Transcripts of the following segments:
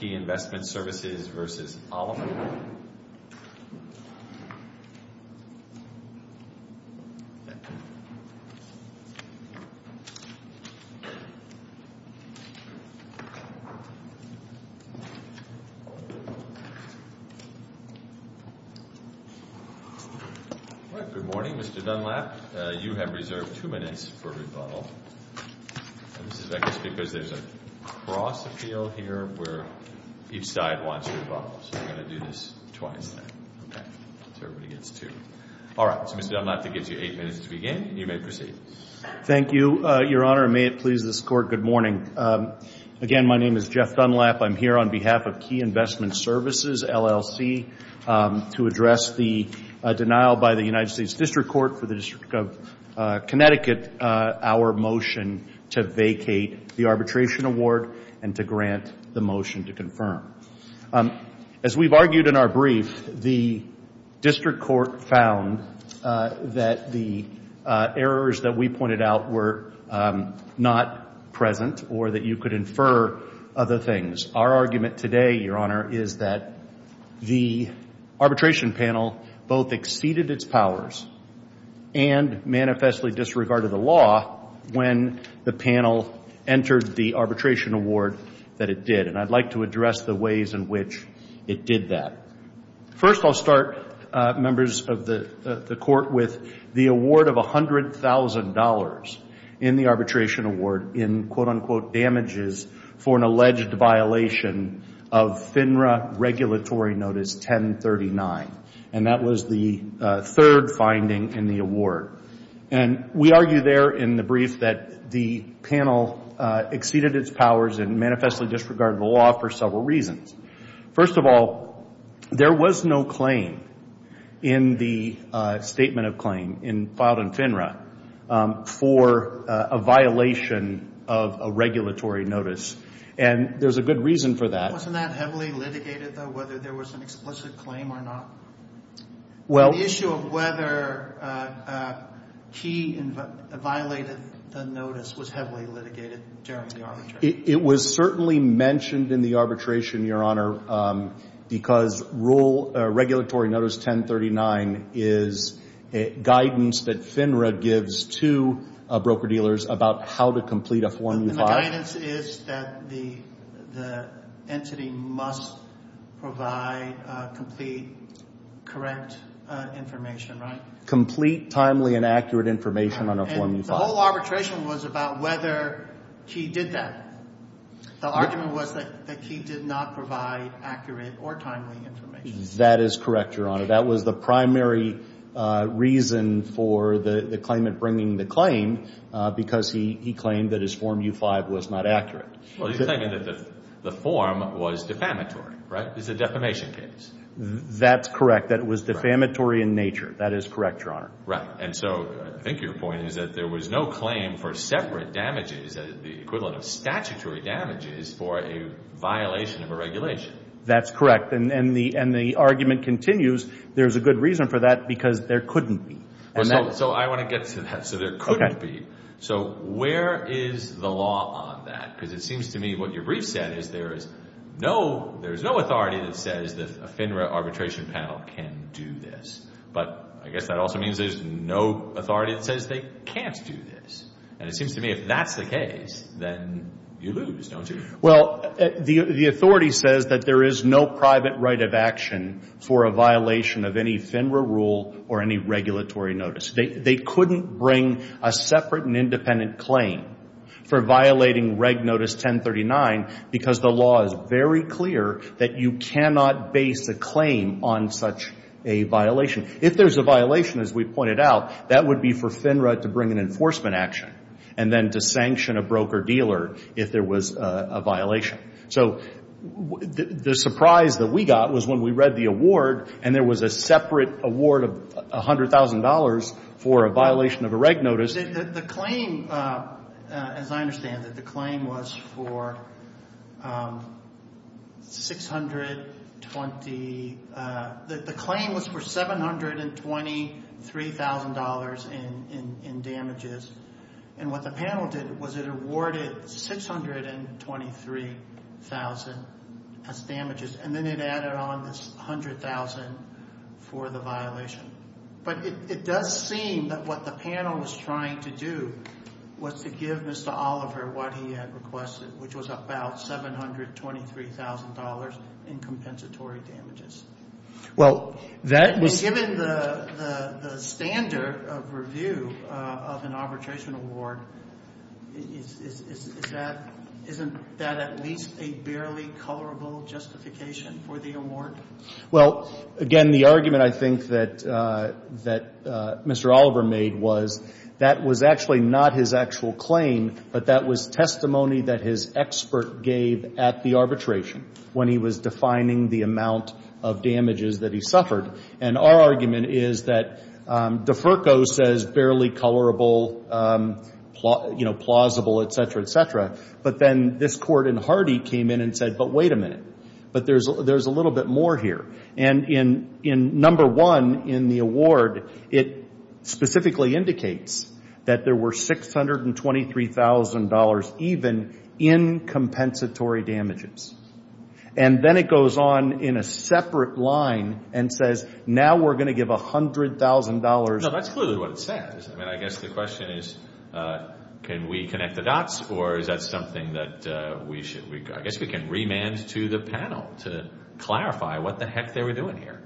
Good morning, Mr. Dunlap. You have reserved two minutes for rebuttal. This is, I guess, because there's a cross-appeal here where each side wants to rebuttal. So we're going to do this twice. Okay. So everybody gets two. All right. So, Mr. Dunlap, that gives you eight minutes to begin, and you may proceed. Thank you, Your Honor, and may it please this Court, good morning. Again, my name is Jeff Dunlap. I'm here on behalf of Key Investment Services LLC to address the denial by the District of Connecticut our motion to vacate the arbitration award and to grant the motion to confirm. As we've argued in our brief, the District Court found that the errors that we pointed out were not present or that you could infer other things. Our argument today, Your Honor, is that the arbitration panel both exceeded its powers and manifestly disregarded the law when the panel entered the arbitration award that it did. And I'd like to address the ways in which it did that. First, I'll start, members of the Court, with the award of $100,000 in the arbitration award in, quote-unquote, damages for an alleged violation of FINRA Regulatory Notice 1039. And that was the third finding in the award. And we argue there in the brief that the panel exceeded its powers and manifestly disregarded the law for several reasons. First of all, there was no claim in the statement of claim filed in FINRA for a violation of a regulatory notice. And there's a good reason for that. Wasn't that heavily litigated, though, whether there was an explicit claim or not? The issue of whether Key violated the notice was heavily litigated during the arbitration. It was certainly mentioned in the arbitration, Your Honor, because Regulatory Notice 1039 is guidance that FINRA gives to broker-dealers about how to complete a Form U5. And the guidance is that the entity must provide complete, correct information, right? Complete, timely, and accurate information on a Form U5. The whole arbitration was about whether Key did that. The argument was that Key did not provide accurate or timely information. That is correct, Your Honor. That was the primary reason for the claimant bringing the claim, because he claimed that his Form U5 was not accurate. Well, you're saying that the form was defamatory, right? It's a defamation case. That's correct. That it was defamatory in nature. That is correct, Your Honor. Right. And so I think your point is that there was no claim for separate damages, the equivalent of statutory damages for a violation of a regulation. That's correct. And the argument continues, there's a good reason for that, because there couldn't be. So I want to get to that. So there couldn't be. So where is the law on that? Because it seems to me what your brief said is there is no authority that says that a FINRA arbitration panel can do this. But I guess that also means there's no authority that says they can't do this. And it seems to me if that's the case, then you lose, don't you? Well, the authority says that there is no private right of action for a violation of any FINRA rule or any regulatory notice. They couldn't bring a separate and independent claim for violating Reg Notice 1039, because the law is very clear that you cannot base a claim on such a violation. If there's a violation, as we pointed out, that would be for FINRA to bring an enforcement action and then to sanction a broker-dealer if there was a violation. So the surprise that we got was when we read the award, and there was a separate award of $100,000 for a violation of a Reg Notice. The claim, as I understand it, the claim was for $723,000 in damages. And what the panel did was it awarded $623,000 as damages, and then it added on this $100,000 for the violation. But it does seem that what the panel was trying to do was to give Mr. Oliver what he had requested, which was about $723,000 in compensatory damages. Well, that was... Given the standard of review of an arbitration award, isn't that at least a barely colorable justification for the award? Well, again, the argument I think that Mr. Oliver made was that was actually not his actual claim, but that was testimony that his expert gave at the arbitration when he was defining the amount of damages that he suffered. And our argument is that DeFerco says barely colorable, you know, plausible, et cetera, et cetera. But then this Court in Hardy came in and said, but wait a minute. But there's a little bit more here. And in number one in the award, it specifically indicates that there were $623,000 even in compensatory damages. And then it goes on in a separate line and says, now we're going to give $100,000... No, that's clearly what it says. I mean, I guess the question is, can we connect the dots, or is that something that we should... I guess we can remand to the panel to clarify what the heck they were doing here.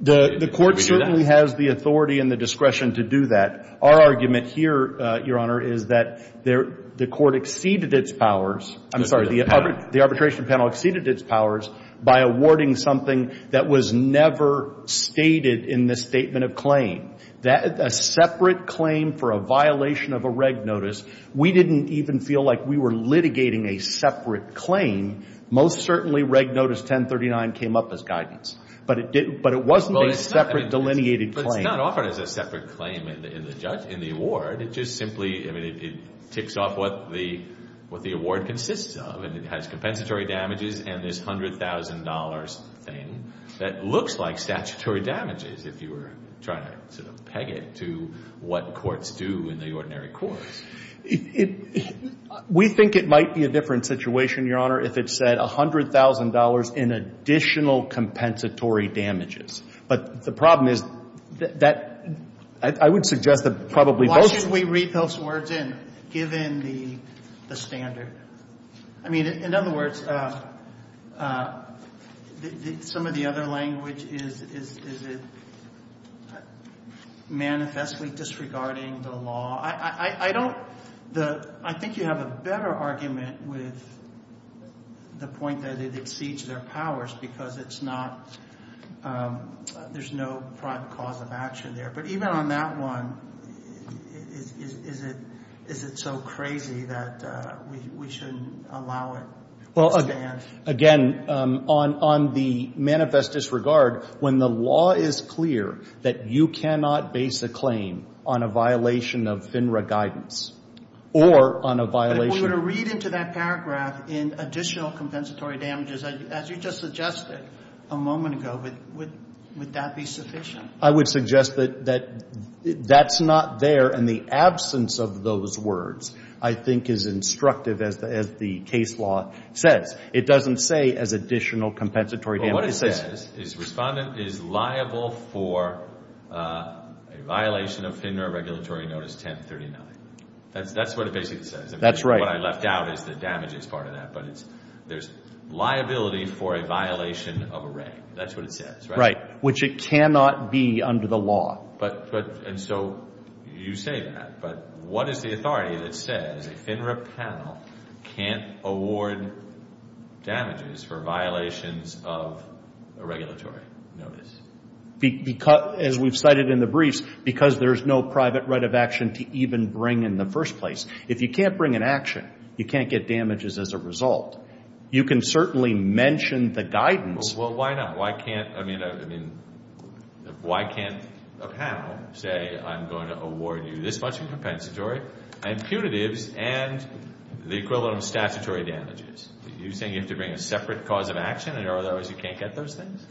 The Court certainly has the authority and the discretion to do that. Our argument here, Your Honor, is that the Court exceeded its powers. I'm sorry. The arbitration panel exceeded its powers by awarding something that was never stated in the statement of claim, a separate claim for a violation of a reg notice. We didn't even feel like we were litigating a separate claim. Most certainly, reg notice 1039 came up as guidance. But it wasn't a separate delineated claim. But it's not offered as a separate claim in the award. It just simply, I mean, it ticks off what the award consists of. And it has compensatory damages and this $100,000 thing that looks like statutory damages, if you were trying to sort of peg it to what courts do in the ordinary courts. We think it might be a different situation, Your Honor, if it said $100,000 in additional compensatory damages. But the problem is that I would suggest that probably both... Why shouldn't we read those words in, given the standard? I mean, in other words, some of the other language is it manifestly disregarding the law? I don't... I think you have a better argument with the point that it exceeds their powers because it's not... There's no prime cause of action there. But even on that one, is it so crazy that we shouldn't allow it? Well, again, on the manifest disregard, when the law is clear that you cannot base a claim on a violation of FINRA guidance or on a violation... But if we were to read into that paragraph in additional compensatory damages, as you just suggested a moment ago, would that be sufficient? I would suggest that that's not there. And the absence of those words, I think, is instructive as the case law says. It doesn't say as additional compensatory damages. Well, what it says is respondent is liable for a violation of FINRA regulatory notice 1039. That's what it basically says. That's right. What I left out is the damages part of that. But there's liability for a violation of array. That's what it says, right? Right. Which it cannot be under the law. And so you say that. But what is the authority that says a FINRA panel can't award damages for violations of a regulatory notice? As we've cited in the briefs, because there's no private right of action to even bring in the first place. If you can't bring an action, you can't get damages as a result. You can certainly mention the guidance. Well, why not? Why can't a panel say I'm going to award you this much in compensatory and punitives and the equivalent of statutory damages? Are you saying you have to bring a separate cause of action? In other words, you can't get those things?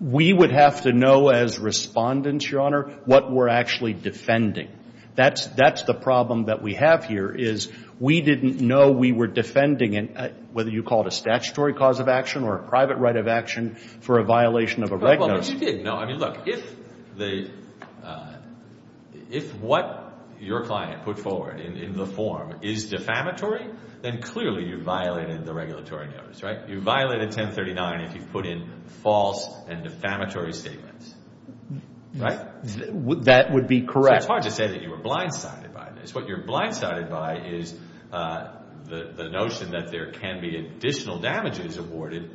We would have to know as respondents, Your Honor, what we're actually defending. That's the problem that we have here is we didn't know we were defending, whether you call it a statutory cause of action or a private right of action for a violation of a regulation. No, I mean, look. If what your client put forward in the form is defamatory, then clearly you violated the regulatory notice, right? You violated 1039 if you put in false and defamatory statements, right? That would be correct. So it's hard to say that you were blindsided by this. What you're blindsided by is the notion that there can be additional damages awarded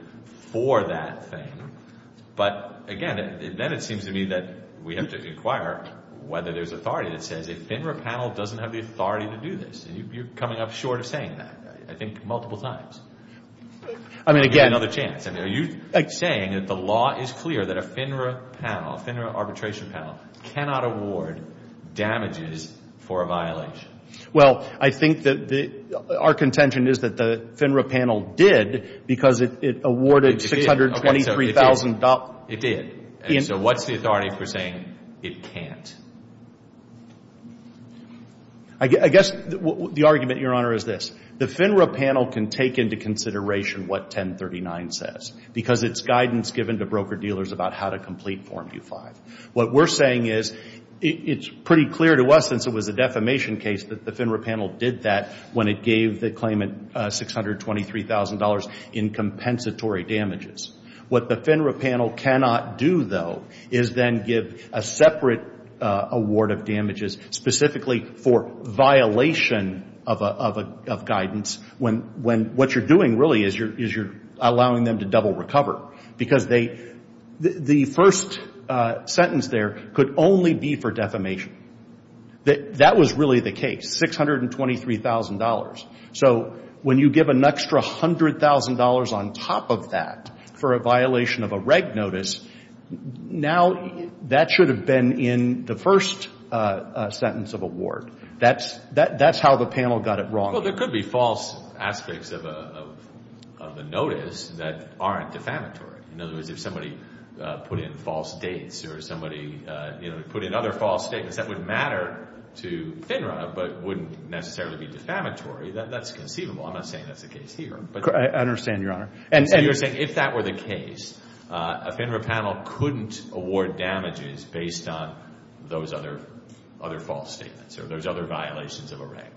for that thing. But, again, then it seems to me that we have to inquire whether there's authority that says a FINRA panel doesn't have the authority to do this. You're coming up short of saying that, I think, multiple times. I mean, again. Are you saying that the law is clear that a FINRA panel, a FINRA arbitration panel, cannot award damages for a violation? Well, I think that our contention is that the FINRA panel did because it awarded $623,000. It did. So what's the authority for saying it can't? I guess the argument, Your Honor, is this. The FINRA panel can take into consideration what 1039 says because it's guidance given to broker-dealers about how to complete Form 25. What we're saying is it's pretty clear to us, since it was a defamation case, that the FINRA panel did that when it gave the claimant $623,000 in compensatory damages. What the FINRA panel cannot do, though, is then give a separate award of damages specifically for violation of guidance when what you're doing really is you're allowing them to double recover. Because the first sentence there could only be for defamation. That was really the case, $623,000. So when you give an extra $100,000 on top of that for a violation of a reg notice, now that should have been in the first sentence of award. That's how the panel got it wrong. Well, there could be false aspects of a notice that aren't defamatory. In other words, if somebody put in false dates or somebody put in other false statements that would matter to FINRA but wouldn't necessarily be defamatory, that's conceivable. I'm not saying that's the case here. I understand, Your Honor. And so you're saying if that were the case, a FINRA panel couldn't award damages based on those other false statements or those other violations of a reg?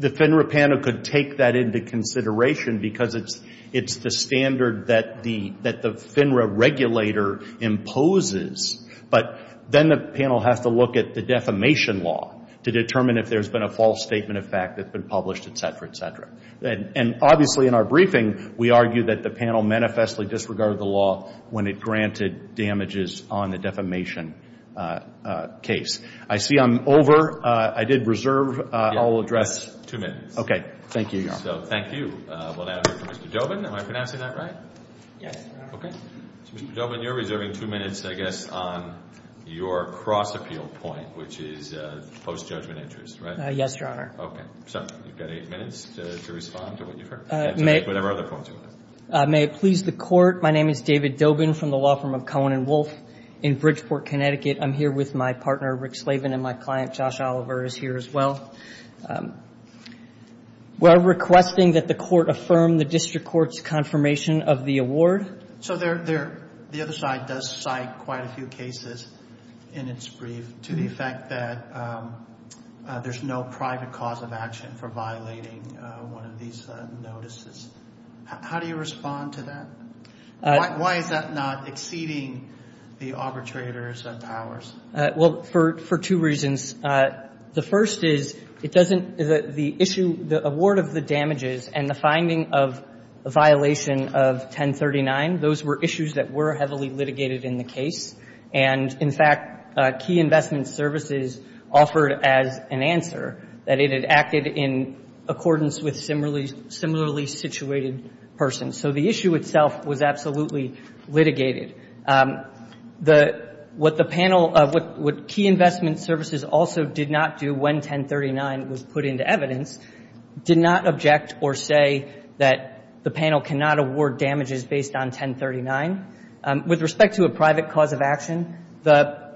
The FINRA panel could take that into consideration because it's the standard that the FINRA regulator imposes. But then the panel has to look at the defamation law to determine if there's been a false statement of fact that's been published, et cetera, et cetera. And obviously in our briefing, we argue that the panel manifestly disregarded the law when it granted damages on the defamation case. I see I'm over. I did reserve. I'll address. Two minutes. Okay. Thank you, Your Honor. So thank you. We'll now hear from Mr. Dobin. Am I pronouncing that right? Yes, Your Honor. Okay. Mr. Dobin, you're reserving two minutes, I guess, on your cross-appeal point, which is post-judgment interest, right? Yes, Your Honor. Okay. So you've got eight minutes to respond to whatever other points you have. May it please the Court. Your Honor, my name is David Dobin from the law firm of Cohen & Wolfe in Bridgeport, Connecticut. I'm here with my partner, Rick Slavin, and my client, Josh Oliver, is here as well. We're requesting that the Court affirm the district court's confirmation of the award. So the other side does cite quite a few cases in its brief to the effect that there's no private cause of action for violating one of these notices. How do you respond to that? Why is that not exceeding the arbitrator's powers? Well, for two reasons. The first is it doesn't the issue, the award of the damages and the finding of a violation of 1039, those were issues that were heavily litigated in the case. And, in fact, Key Investment Services offered as an answer that it had acted in accordance with similarly situated persons. So the issue itself was absolutely litigated. What the panel, what Key Investment Services also did not do when 1039 was put into evidence, did not object or say that the panel cannot award damages based on 1039. With respect to a private cause of action,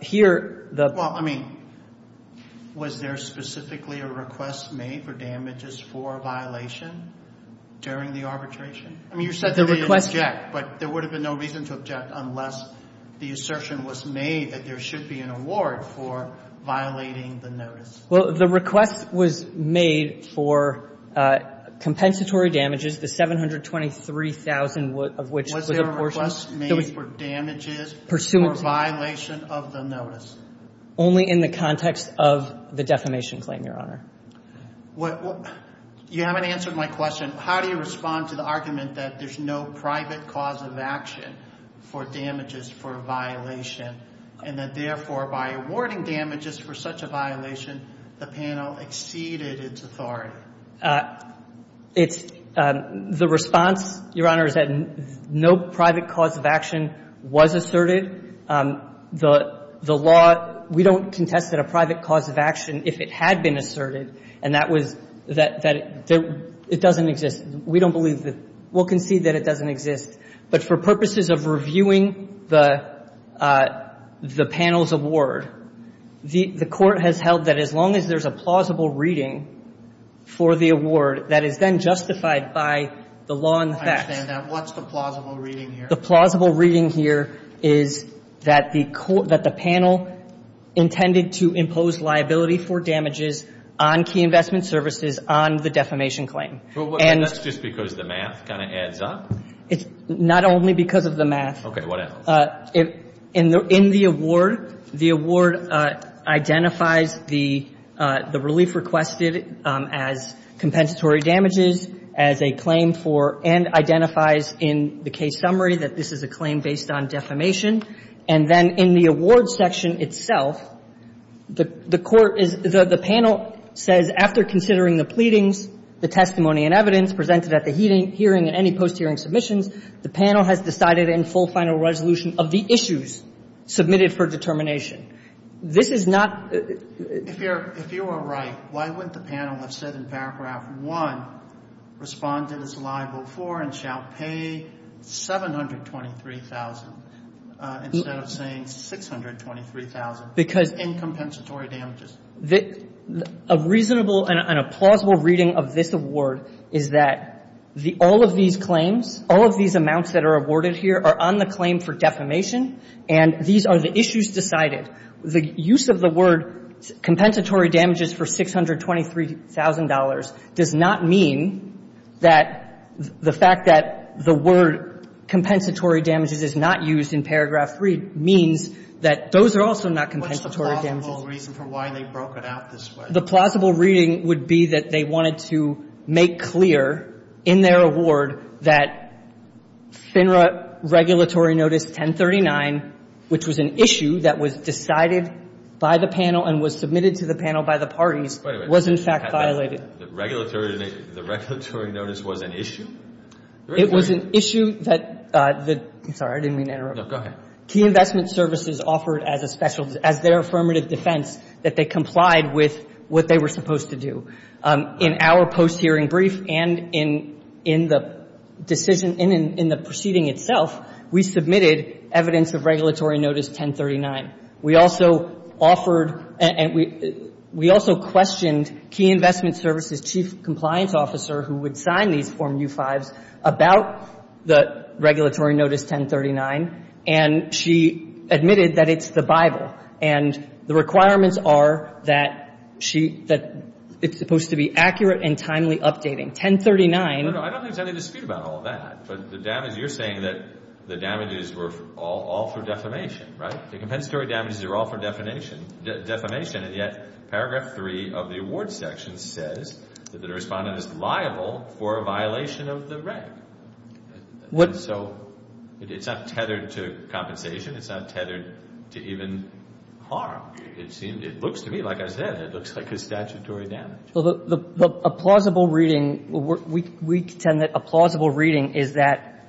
here the ---- Well, I mean, was there specifically a request made for damages for a violation during the arbitration? I mean, you said the request ---- But there would have been no reason to object unless the assertion was made that there should be an award for violating the notice. Well, the request was made for compensatory damages, the 723,000 of which was a portion. The request was made for damages for violation of the notice. Only in the context of the defamation claim, Your Honor. You haven't answered my question. How do you respond to the argument that there's no private cause of action for damages for a violation and that, therefore, by awarding damages for such a violation, the panel exceeded its authority? It's the response, Your Honor, is that no private cause of action was asserted. The law, we don't contest that a private cause of action, if it had been asserted, and that was that it doesn't exist. We don't believe that. We'll concede that it doesn't exist. But for purposes of reviewing the panel's award, the Court has held that as long as there's a plausible reading for the award that is then justified by the law in effect. I understand that. What's the plausible reading here? The plausible reading here is that the panel intended to impose liability for damages on key investment services on the defamation claim. And that's just because the math kind of adds up? It's not only because of the math. Okay. What else? In the award, the award identifies the relief requested as compensatory damages as a claim for and identifies in the case summary that this is a claim based on defamation. And then in the award section itself, the court is the panel says after considering the pleadings, the testimony and evidence presented at the hearing and any post-hearing submissions, the panel has decided in full final resolution of the issues submitted for determination. This is not — If you are right, why wouldn't the panel have said in Paragraph 1, respond to this liable for and shall pay $723,000 instead of saying $623,000 in compensatory damages? A reasonable and a plausible reading of this award is that the — all of these claims, all of these amounts that are awarded here are on the claim for defamation and these are the issues decided. The use of the word compensatory damages for $623,000 does not mean that the fact that the word compensatory damages is not used in Paragraph 3 means that those are also not compensatory damages. That's the whole reason for why they broke it out this way. The plausible reading would be that they wanted to make clear in their award that FINRA regulatory notice 1039, which was an issue that was decided by the panel and was submitted to the panel by the parties, was in fact violated. The regulatory notice was an issue? It was an issue that — I'm sorry. I didn't mean to interrupt. No, go ahead. Key investment services offered as a special — as their affirmative defense that they complied with what they were supposed to do. In our post-hearing brief and in the decision — in the proceeding itself, we submitted evidence of regulatory notice 1039. We also offered — and we also questioned key investment services' chief compliance officer who would sign these Form U-5s about the regulatory notice 1039, and she admitted that it's the Bible and the requirements are that she — that it's supposed to be accurate and timely updating. 1039 — No, no. I don't think there's any dispute about all that. But the damage — you're saying that the damages were all for defamation, right? The compensatory damages are all for defamation, and yet Paragraph 3 of the award section says that the Respondent is liable for a violation of the reg. And so it's not tethered to compensation. It's not tethered to even harm. It seems — it looks to me, like I said, it looks like a statutory damage. Well, a plausible reading — we contend that a plausible reading is that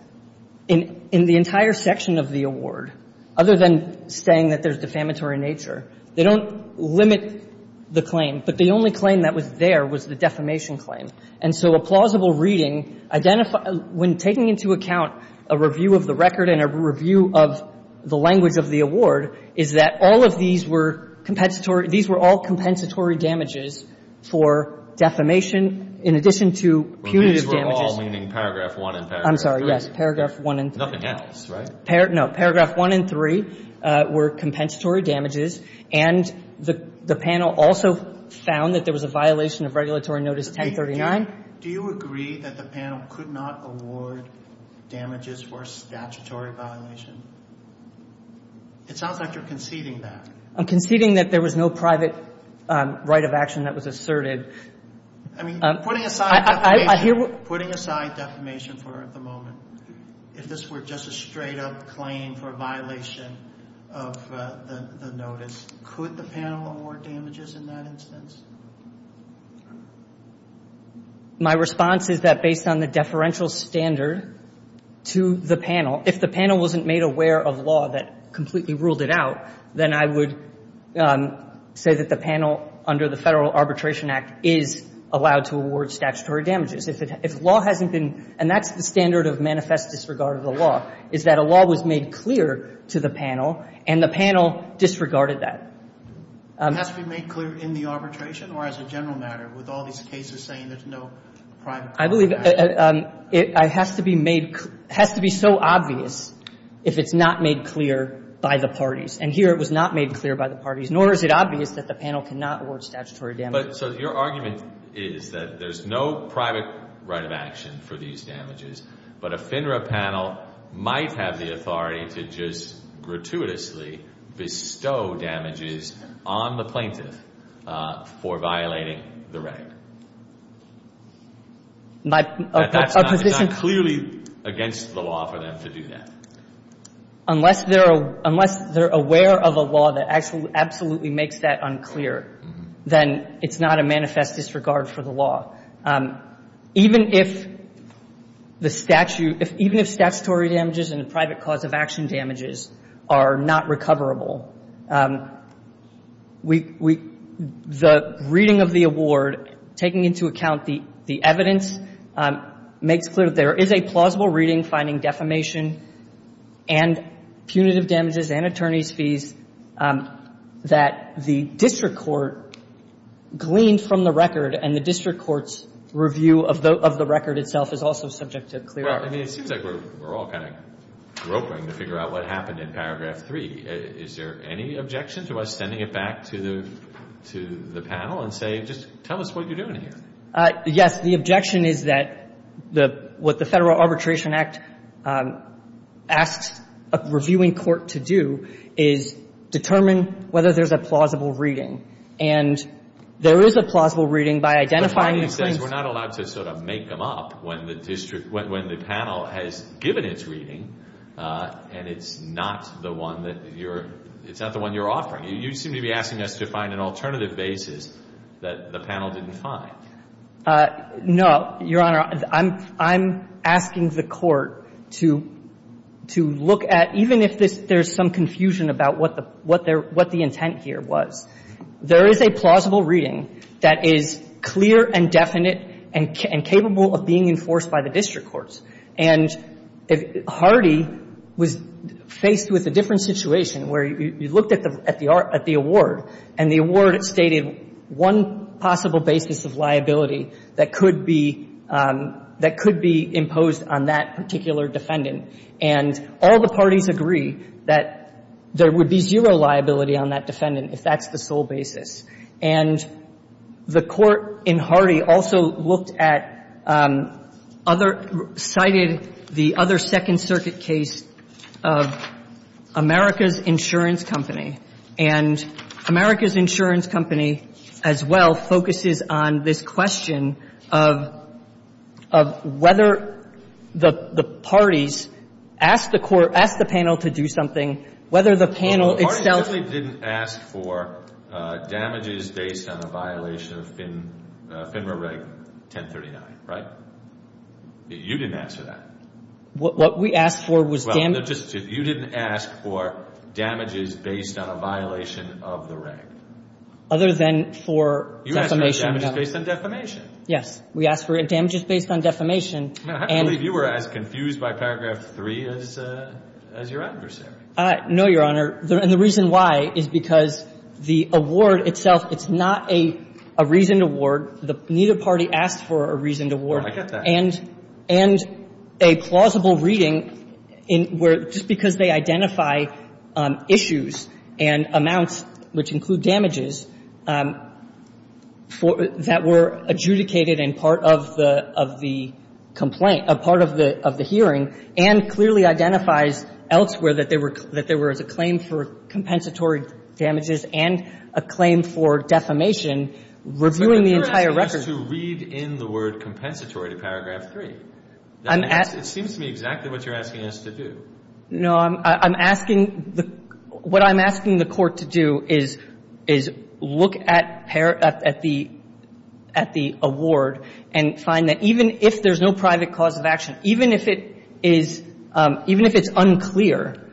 in the entire section of the award, other than saying that there's defamatory nature, they don't limit the claim. But the only claim that was there was the defamation claim. And so a plausible reading identifies — when taking into account a review of the record and a review of the language of the award, is that all of these were compensatory — these were all compensatory damages for defamation in addition to punitive Well, these were all, meaning Paragraph 1 and Paragraph 3. I'm sorry, yes. Paragraph 1 and 3. Nothing else, right? No. Paragraph 1 and 3 were compensatory damages. And the panel also found that there was a violation of Regulatory Notice 1039. Do you agree that the panel could not award damages for a statutory violation? It sounds like you're conceding that. I'm conceding that there was no private right of action that was asserted. I mean, putting aside defamation for the moment, if this were just a straight-up claim for a violation of the notice, could the panel award damages in that instance? My response is that based on the deferential standard to the panel, if the panel wasn't made aware of law that completely ruled it out, then I would say that the panel under the Federal Arbitration Act is allowed to award statutory damages. If law hasn't been — and that's the standard of manifest disregard of the law is that a law was made clear to the panel, and the panel disregarded that. It has to be made clear in the arbitration, or as a general matter, with all these cases saying there's no private right of action? I believe it has to be made — has to be so obvious if it's not made clear by the parties. And here it was not made clear by the parties, nor is it obvious that the panel cannot award statutory damages. So your argument is that there's no private right of action for these damages, but a FINRA panel might have the authority to just gratuitously bestow damages on the plaintiff for violating the right. But that's not clearly against the law for them to do that. Unless they're aware of a law that absolutely makes that unclear, then it's not a manifest disregard for the law. Even if the statute — even if statutory damages and the private cause of action damages are not recoverable, the reading of the award, taking into account the evidence, makes clear that there is a plausible reading finding defamation and punitive damages and attorney's fees that the district court gleaned from the record and the district court's review of the record itself is also subject to clear argument. Well, I mean, it seems like we're all kind of groping to figure out what happened in paragraph 3. Is there any objection to us sending it back to the panel and say, just tell us what you're doing here? Yes. The objection is that what the Federal Arbitration Act asks a reviewing court to do is determine whether there's a plausible reading. And there is a plausible reading by identifying the claims — The finding says we're not allowed to sort of make them up when the district — when the panel has given its reading and it's not the one that you're — it's not the one you're offering. You seem to be asking us to find an alternative basis that the panel didn't find. No, Your Honor. I'm — I'm asking the court to — to look at, even if there's some confusion about what the — what the intent here was. There is a plausible reading that is clear and definite and capable of being enforced by the district courts. And Hardy was faced with a different situation where you looked at the award, and the award stated one possible basis of liability that could be — that could be imposed on that particular defendant. And all the parties agree that there would be zero liability on that defendant if that's the sole basis. And the court in Hardy also looked at other — cited the other Second Circuit case of America's Insurance Company. And America's Insurance Company, as well, focuses on this question of — of whether the parties asked the court — asked the panel to do something, whether the panel itself — Well, the parties really didn't ask for damages based on a violation of FINRA Reg 1039, right? You didn't ask for that. What we asked for was — Well, no, just — if you didn't ask for damages based on a violation of the reg. Other than for defamation — You asked for damages based on defamation. Yes. We asked for damages based on defamation. And — I believe you were as confused by paragraph 3 as your adversary. No, Your Honor. And the reason why is because the award itself, it's not a — a reasoned award. Neither party asked for a reasoned award. Oh, I get that. And a plausible reading in where — just because they identify issues and amounts, which include damages, for — that were adjudicated in part of the — of the complaint — part of the — of the hearing, and clearly identifies elsewhere that there were — that there was a claim for compensatory damages and a claim for defamation, reviewing the entire record — But you're asking us to read in the word compensatory to paragraph 3. I'm — It seems to me exactly what you're asking us to do. No. I'm — I'm asking — what I'm asking the Court to do is — is look at — at the — at the award and find that even if there's no private cause of action, even if it is — even if it's unclear,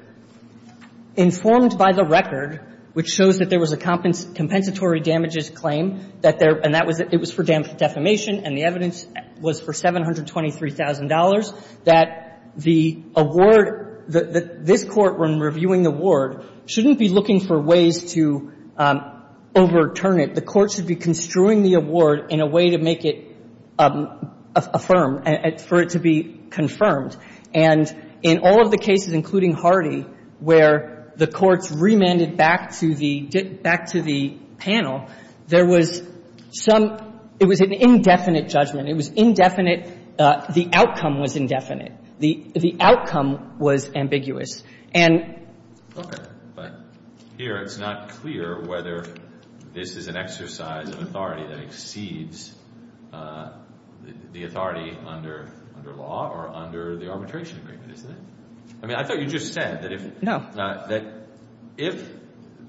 informed by the record, which shows that there was a compensatory damages claim, that there — and that was — it was for defamation, and the evidence was for $723,000, that the award — that this Court, when reviewing the award, shouldn't be looking for ways to overturn it. The Court should be construing the award in a way to make it affirm, for it to be confirmed. And in all of the cases, including Hardy, where the courts remanded back to the — back to the panel, there was some — it was an indefinite judgment. It was indefinite. The outcome was indefinite. The — the outcome was ambiguous. And — But here it's not clear whether this is an exercise of authority that exceeds the authority under — under law or under the arbitration agreement, isn't it? I mean, I thought you just said that if — No. No, that if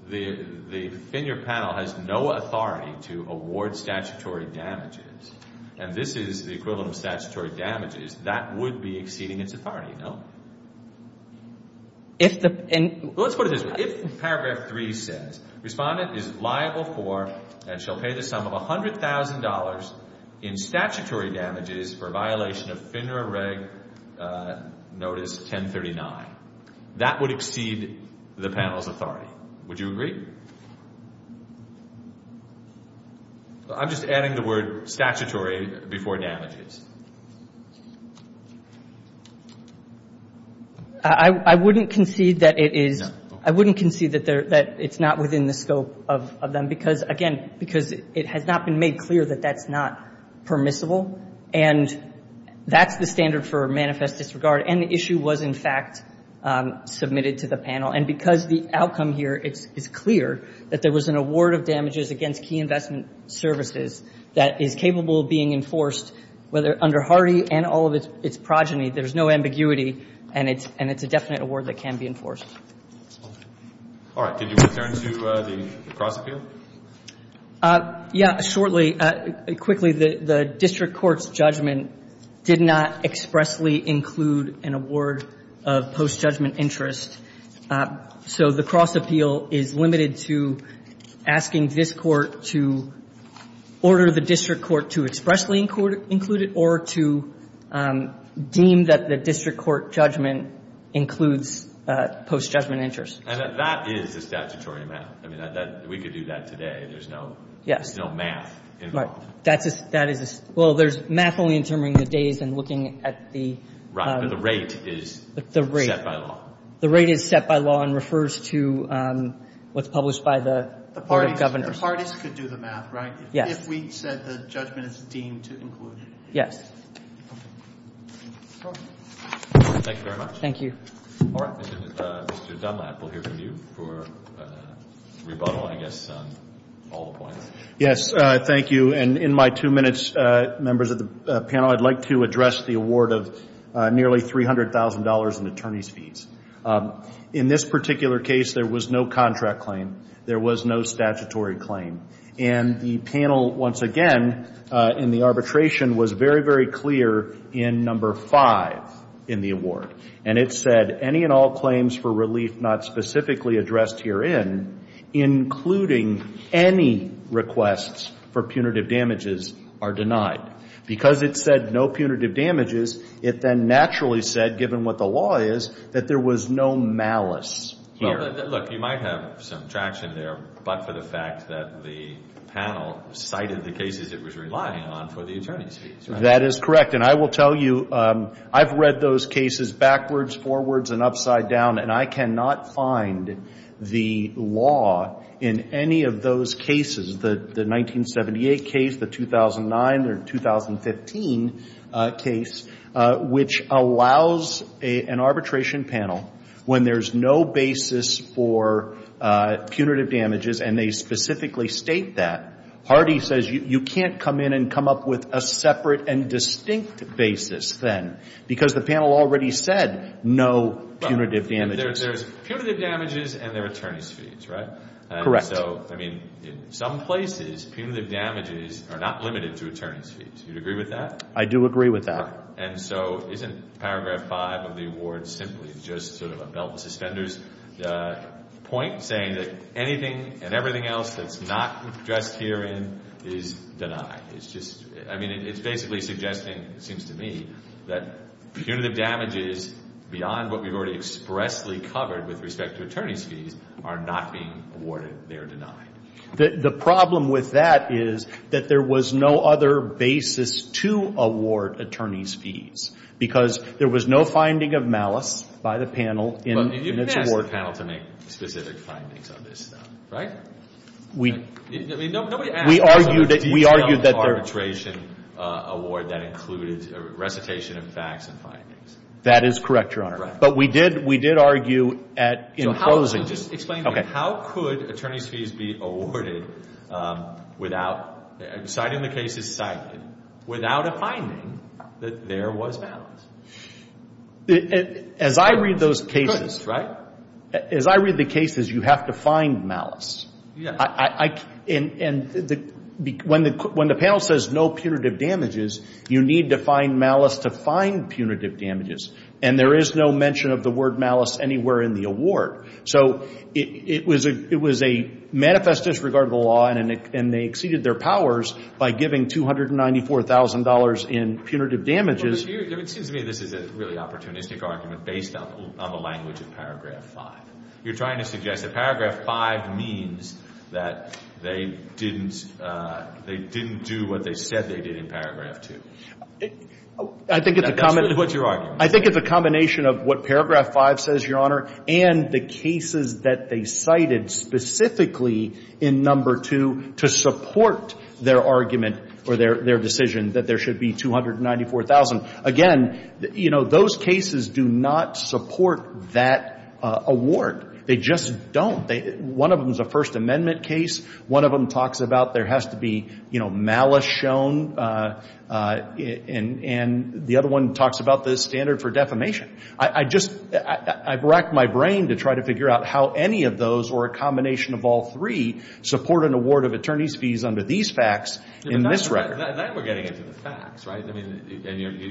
the finder panel has no authority to award statutory damages, and this is the equivalent of statutory damages, that would be exceeding its authority, no? If the — Let's put it this way. If paragraph 3 says, Respondent is liable for and shall pay the sum of $100,000 in statutory damages for violation of FINRA Reg. Notice 1039, that would exceed the panel's authority. Would you agree? I'm just adding the word statutory before damages. I wouldn't concede that it is — No. I wouldn't concede that it's not within the scope of them because, again, because it has not been made clear that that's not permissible. And that's the standard for manifest disregard. And the issue was, in fact, submitted to the panel. And because the outcome here is clear, that there was an award of damages against key investment services that is capable of being enforced, whether under Hardy and all of its — its progeny, there's no ambiguity and it's — and it's a definite award that can be enforced. All right. Did you return to the cross-appeal? Yeah, shortly. Quickly, the district court's judgment did not expressly include an award of post-judgment interest. So the cross-appeal is limited to asking this Court to order the district court to expressly include it or to deem that the district court judgment includes post-judgment interest. And that is a statutory amount. I mean, we could do that today. There's no math. Right. That is a — well, there's math only in terms of the days and looking at the — Right. But the rate is set by law. The rate is set by law and refers to what's published by the Board of Governors. The parties could do the math, right? Yes. If we said the judgment is deemed to include. Yes. Thank you very much. Thank you. All right. Mr. Dunlap, we'll hear from you for rebuttal, I guess, on all the points. Yes, thank you. And in my two minutes, members of the panel, I'd like to address the award of nearly $300,000 in attorney's fees. In this particular case, there was no contract claim. There was no statutory claim. And the panel, once again, in the arbitration, was very, very clear in number five in the award. And it said, that any and all claims for relief not specifically addressed herein, including any requests for punitive damages, are denied. Because it said no punitive damages, it then naturally said, given what the law is, that there was no malice here. Look, you might have some traction there, but for the fact that the panel cited the cases it was relying on for the attorney's fees. That is correct. And I will tell you, I've read those cases backwards, forwards, and upside down, and I cannot find the law in any of those cases. The 1978 case, the 2009 or 2015 case, which allows an arbitration panel, when there's no basis for punitive damages, and they specifically state that, Hardy says you can't come in and come up with a separate and distinct basis then, because the panel already said no punitive damages. There's punitive damages and there are attorney's fees, right? Correct. So, I mean, in some places, punitive damages are not limited to attorney's fees. Do you agree with that? I do agree with that. And so isn't paragraph five of the award simply just sort of a belt and suspenders point, saying that anything and everything else that's not addressed herein is denied? It's just, I mean, it's basically suggesting, it seems to me, that punitive damages beyond what we've already expressly covered with respect to attorney's fees are not being awarded, they are denied. The problem with that is that there was no other basis to award attorney's fees, because there was no finding of malice by the panel in its award. There was no panel to make specific findings on this stuff, right? We argued that there... We argued that there was no arbitration award that included recitation of facts and findings. That is correct, Your Honor. But we did argue at, in closing... So just explain to me, how could attorney's fees be awarded without, citing the cases cited, without a finding that there was malice? As I read those cases... Malice, right? As I read the cases, you have to find malice. And when the panel says no punitive damages, you need to find malice to find punitive damages. And there is no mention of the word malice anywhere in the award. So it was a manifest disregard of the law, and they exceeded their powers by giving $294,000 in punitive damages. It seems to me this is a really opportunistic argument based on the language of Paragraph 5. You're trying to suggest that Paragraph 5 means that they didn't do what they said they did in Paragraph 2. That's really what you're arguing. I think it's a combination of what Paragraph 5 says, Your Honor, and the cases that they cited specifically in Number 2 to support their argument or their decision that there should be $294,000. Again, you know, those cases do not support that award. They just don't. One of them is a First Amendment case. One of them talks about there has to be, you know, malice shown. And the other one talks about the standard for defamation. I just ‑‑ I racked my brain to try to figure out how any of those or a combination of all three support an award of attorney's fees under these facts in this record. Now we're getting into the facts, right? I mean,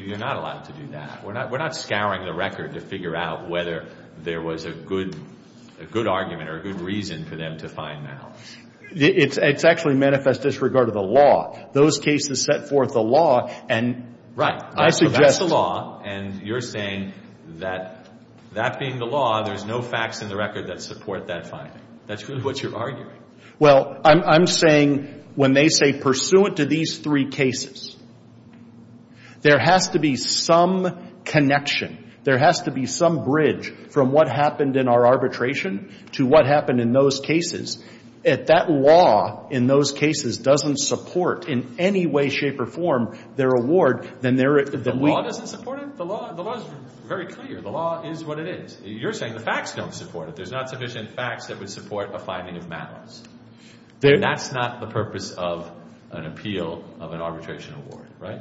you're not allowed to do that. We're not scouring the record to figure out whether there was a good argument or a good reason for them to find malice. It's actually manifest disregard of the law. Those cases set forth the law, and I suggest ‑‑ So that's the law, and you're saying that that being the law, there's no facts in the record that support that finding. That's what you're arguing. Well, I'm saying when they say pursuant to these three cases, there has to be some connection. There has to be some bridge from what happened in our arbitration to what happened in those cases. If that law in those cases doesn't support in any way, shape, or form their award, then they're ‑‑ The law doesn't support it? The law is very clear. The law is what it is. You're saying the facts don't support it. There's not sufficient facts that would support a finding of malice. And that's not the purpose of an appeal of an arbitration award, right?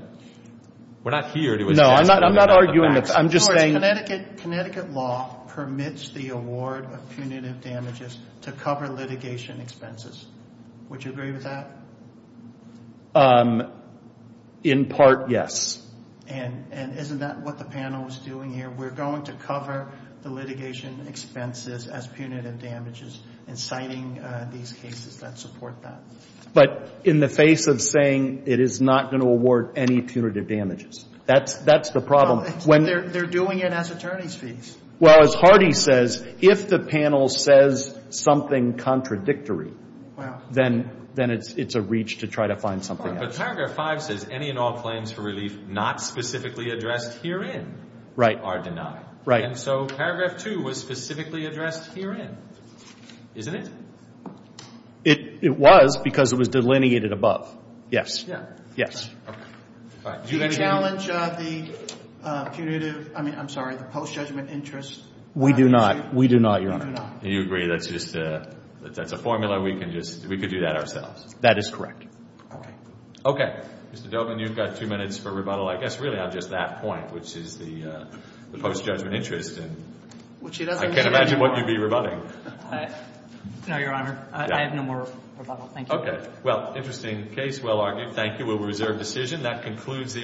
We're not here to advance that. No, I'm not arguing that. I'm just saying ‑‑ Connecticut law permits the award of punitive damages to cover litigation expenses. Would you agree with that? In part, yes. And isn't that what the panel is doing here? We're going to cover the litigation expenses as punitive damages in citing these cases that support that. But in the face of saying it is not going to award any punitive damages, that's the problem. They're doing it as attorney's fees. Well, as Hardy says, if the panel says something contradictory, then it's a reach to try to find something else. But paragraph 5 says, any and all claims for relief not specifically addressed herein are denied. And so paragraph 2 was specifically addressed herein, isn't it? It was because it was delineated above. Do you challenge the punitive ‑‑ I'm sorry, the post-judgment interest? We do not. We do not, Your Honor. You agree that's just a formula. We could do that ourselves. That is correct. Okay. Mr. Dobin, you've got two minutes for rebuttal. I guess really on just that point, which is the post-judgment interest. I can't imagine what you'd be rebutting. No, Your Honor. I have no more rebuttal. Thank you. Okay. Well, interesting case. Well argued. Thank you. We'll reserve decision.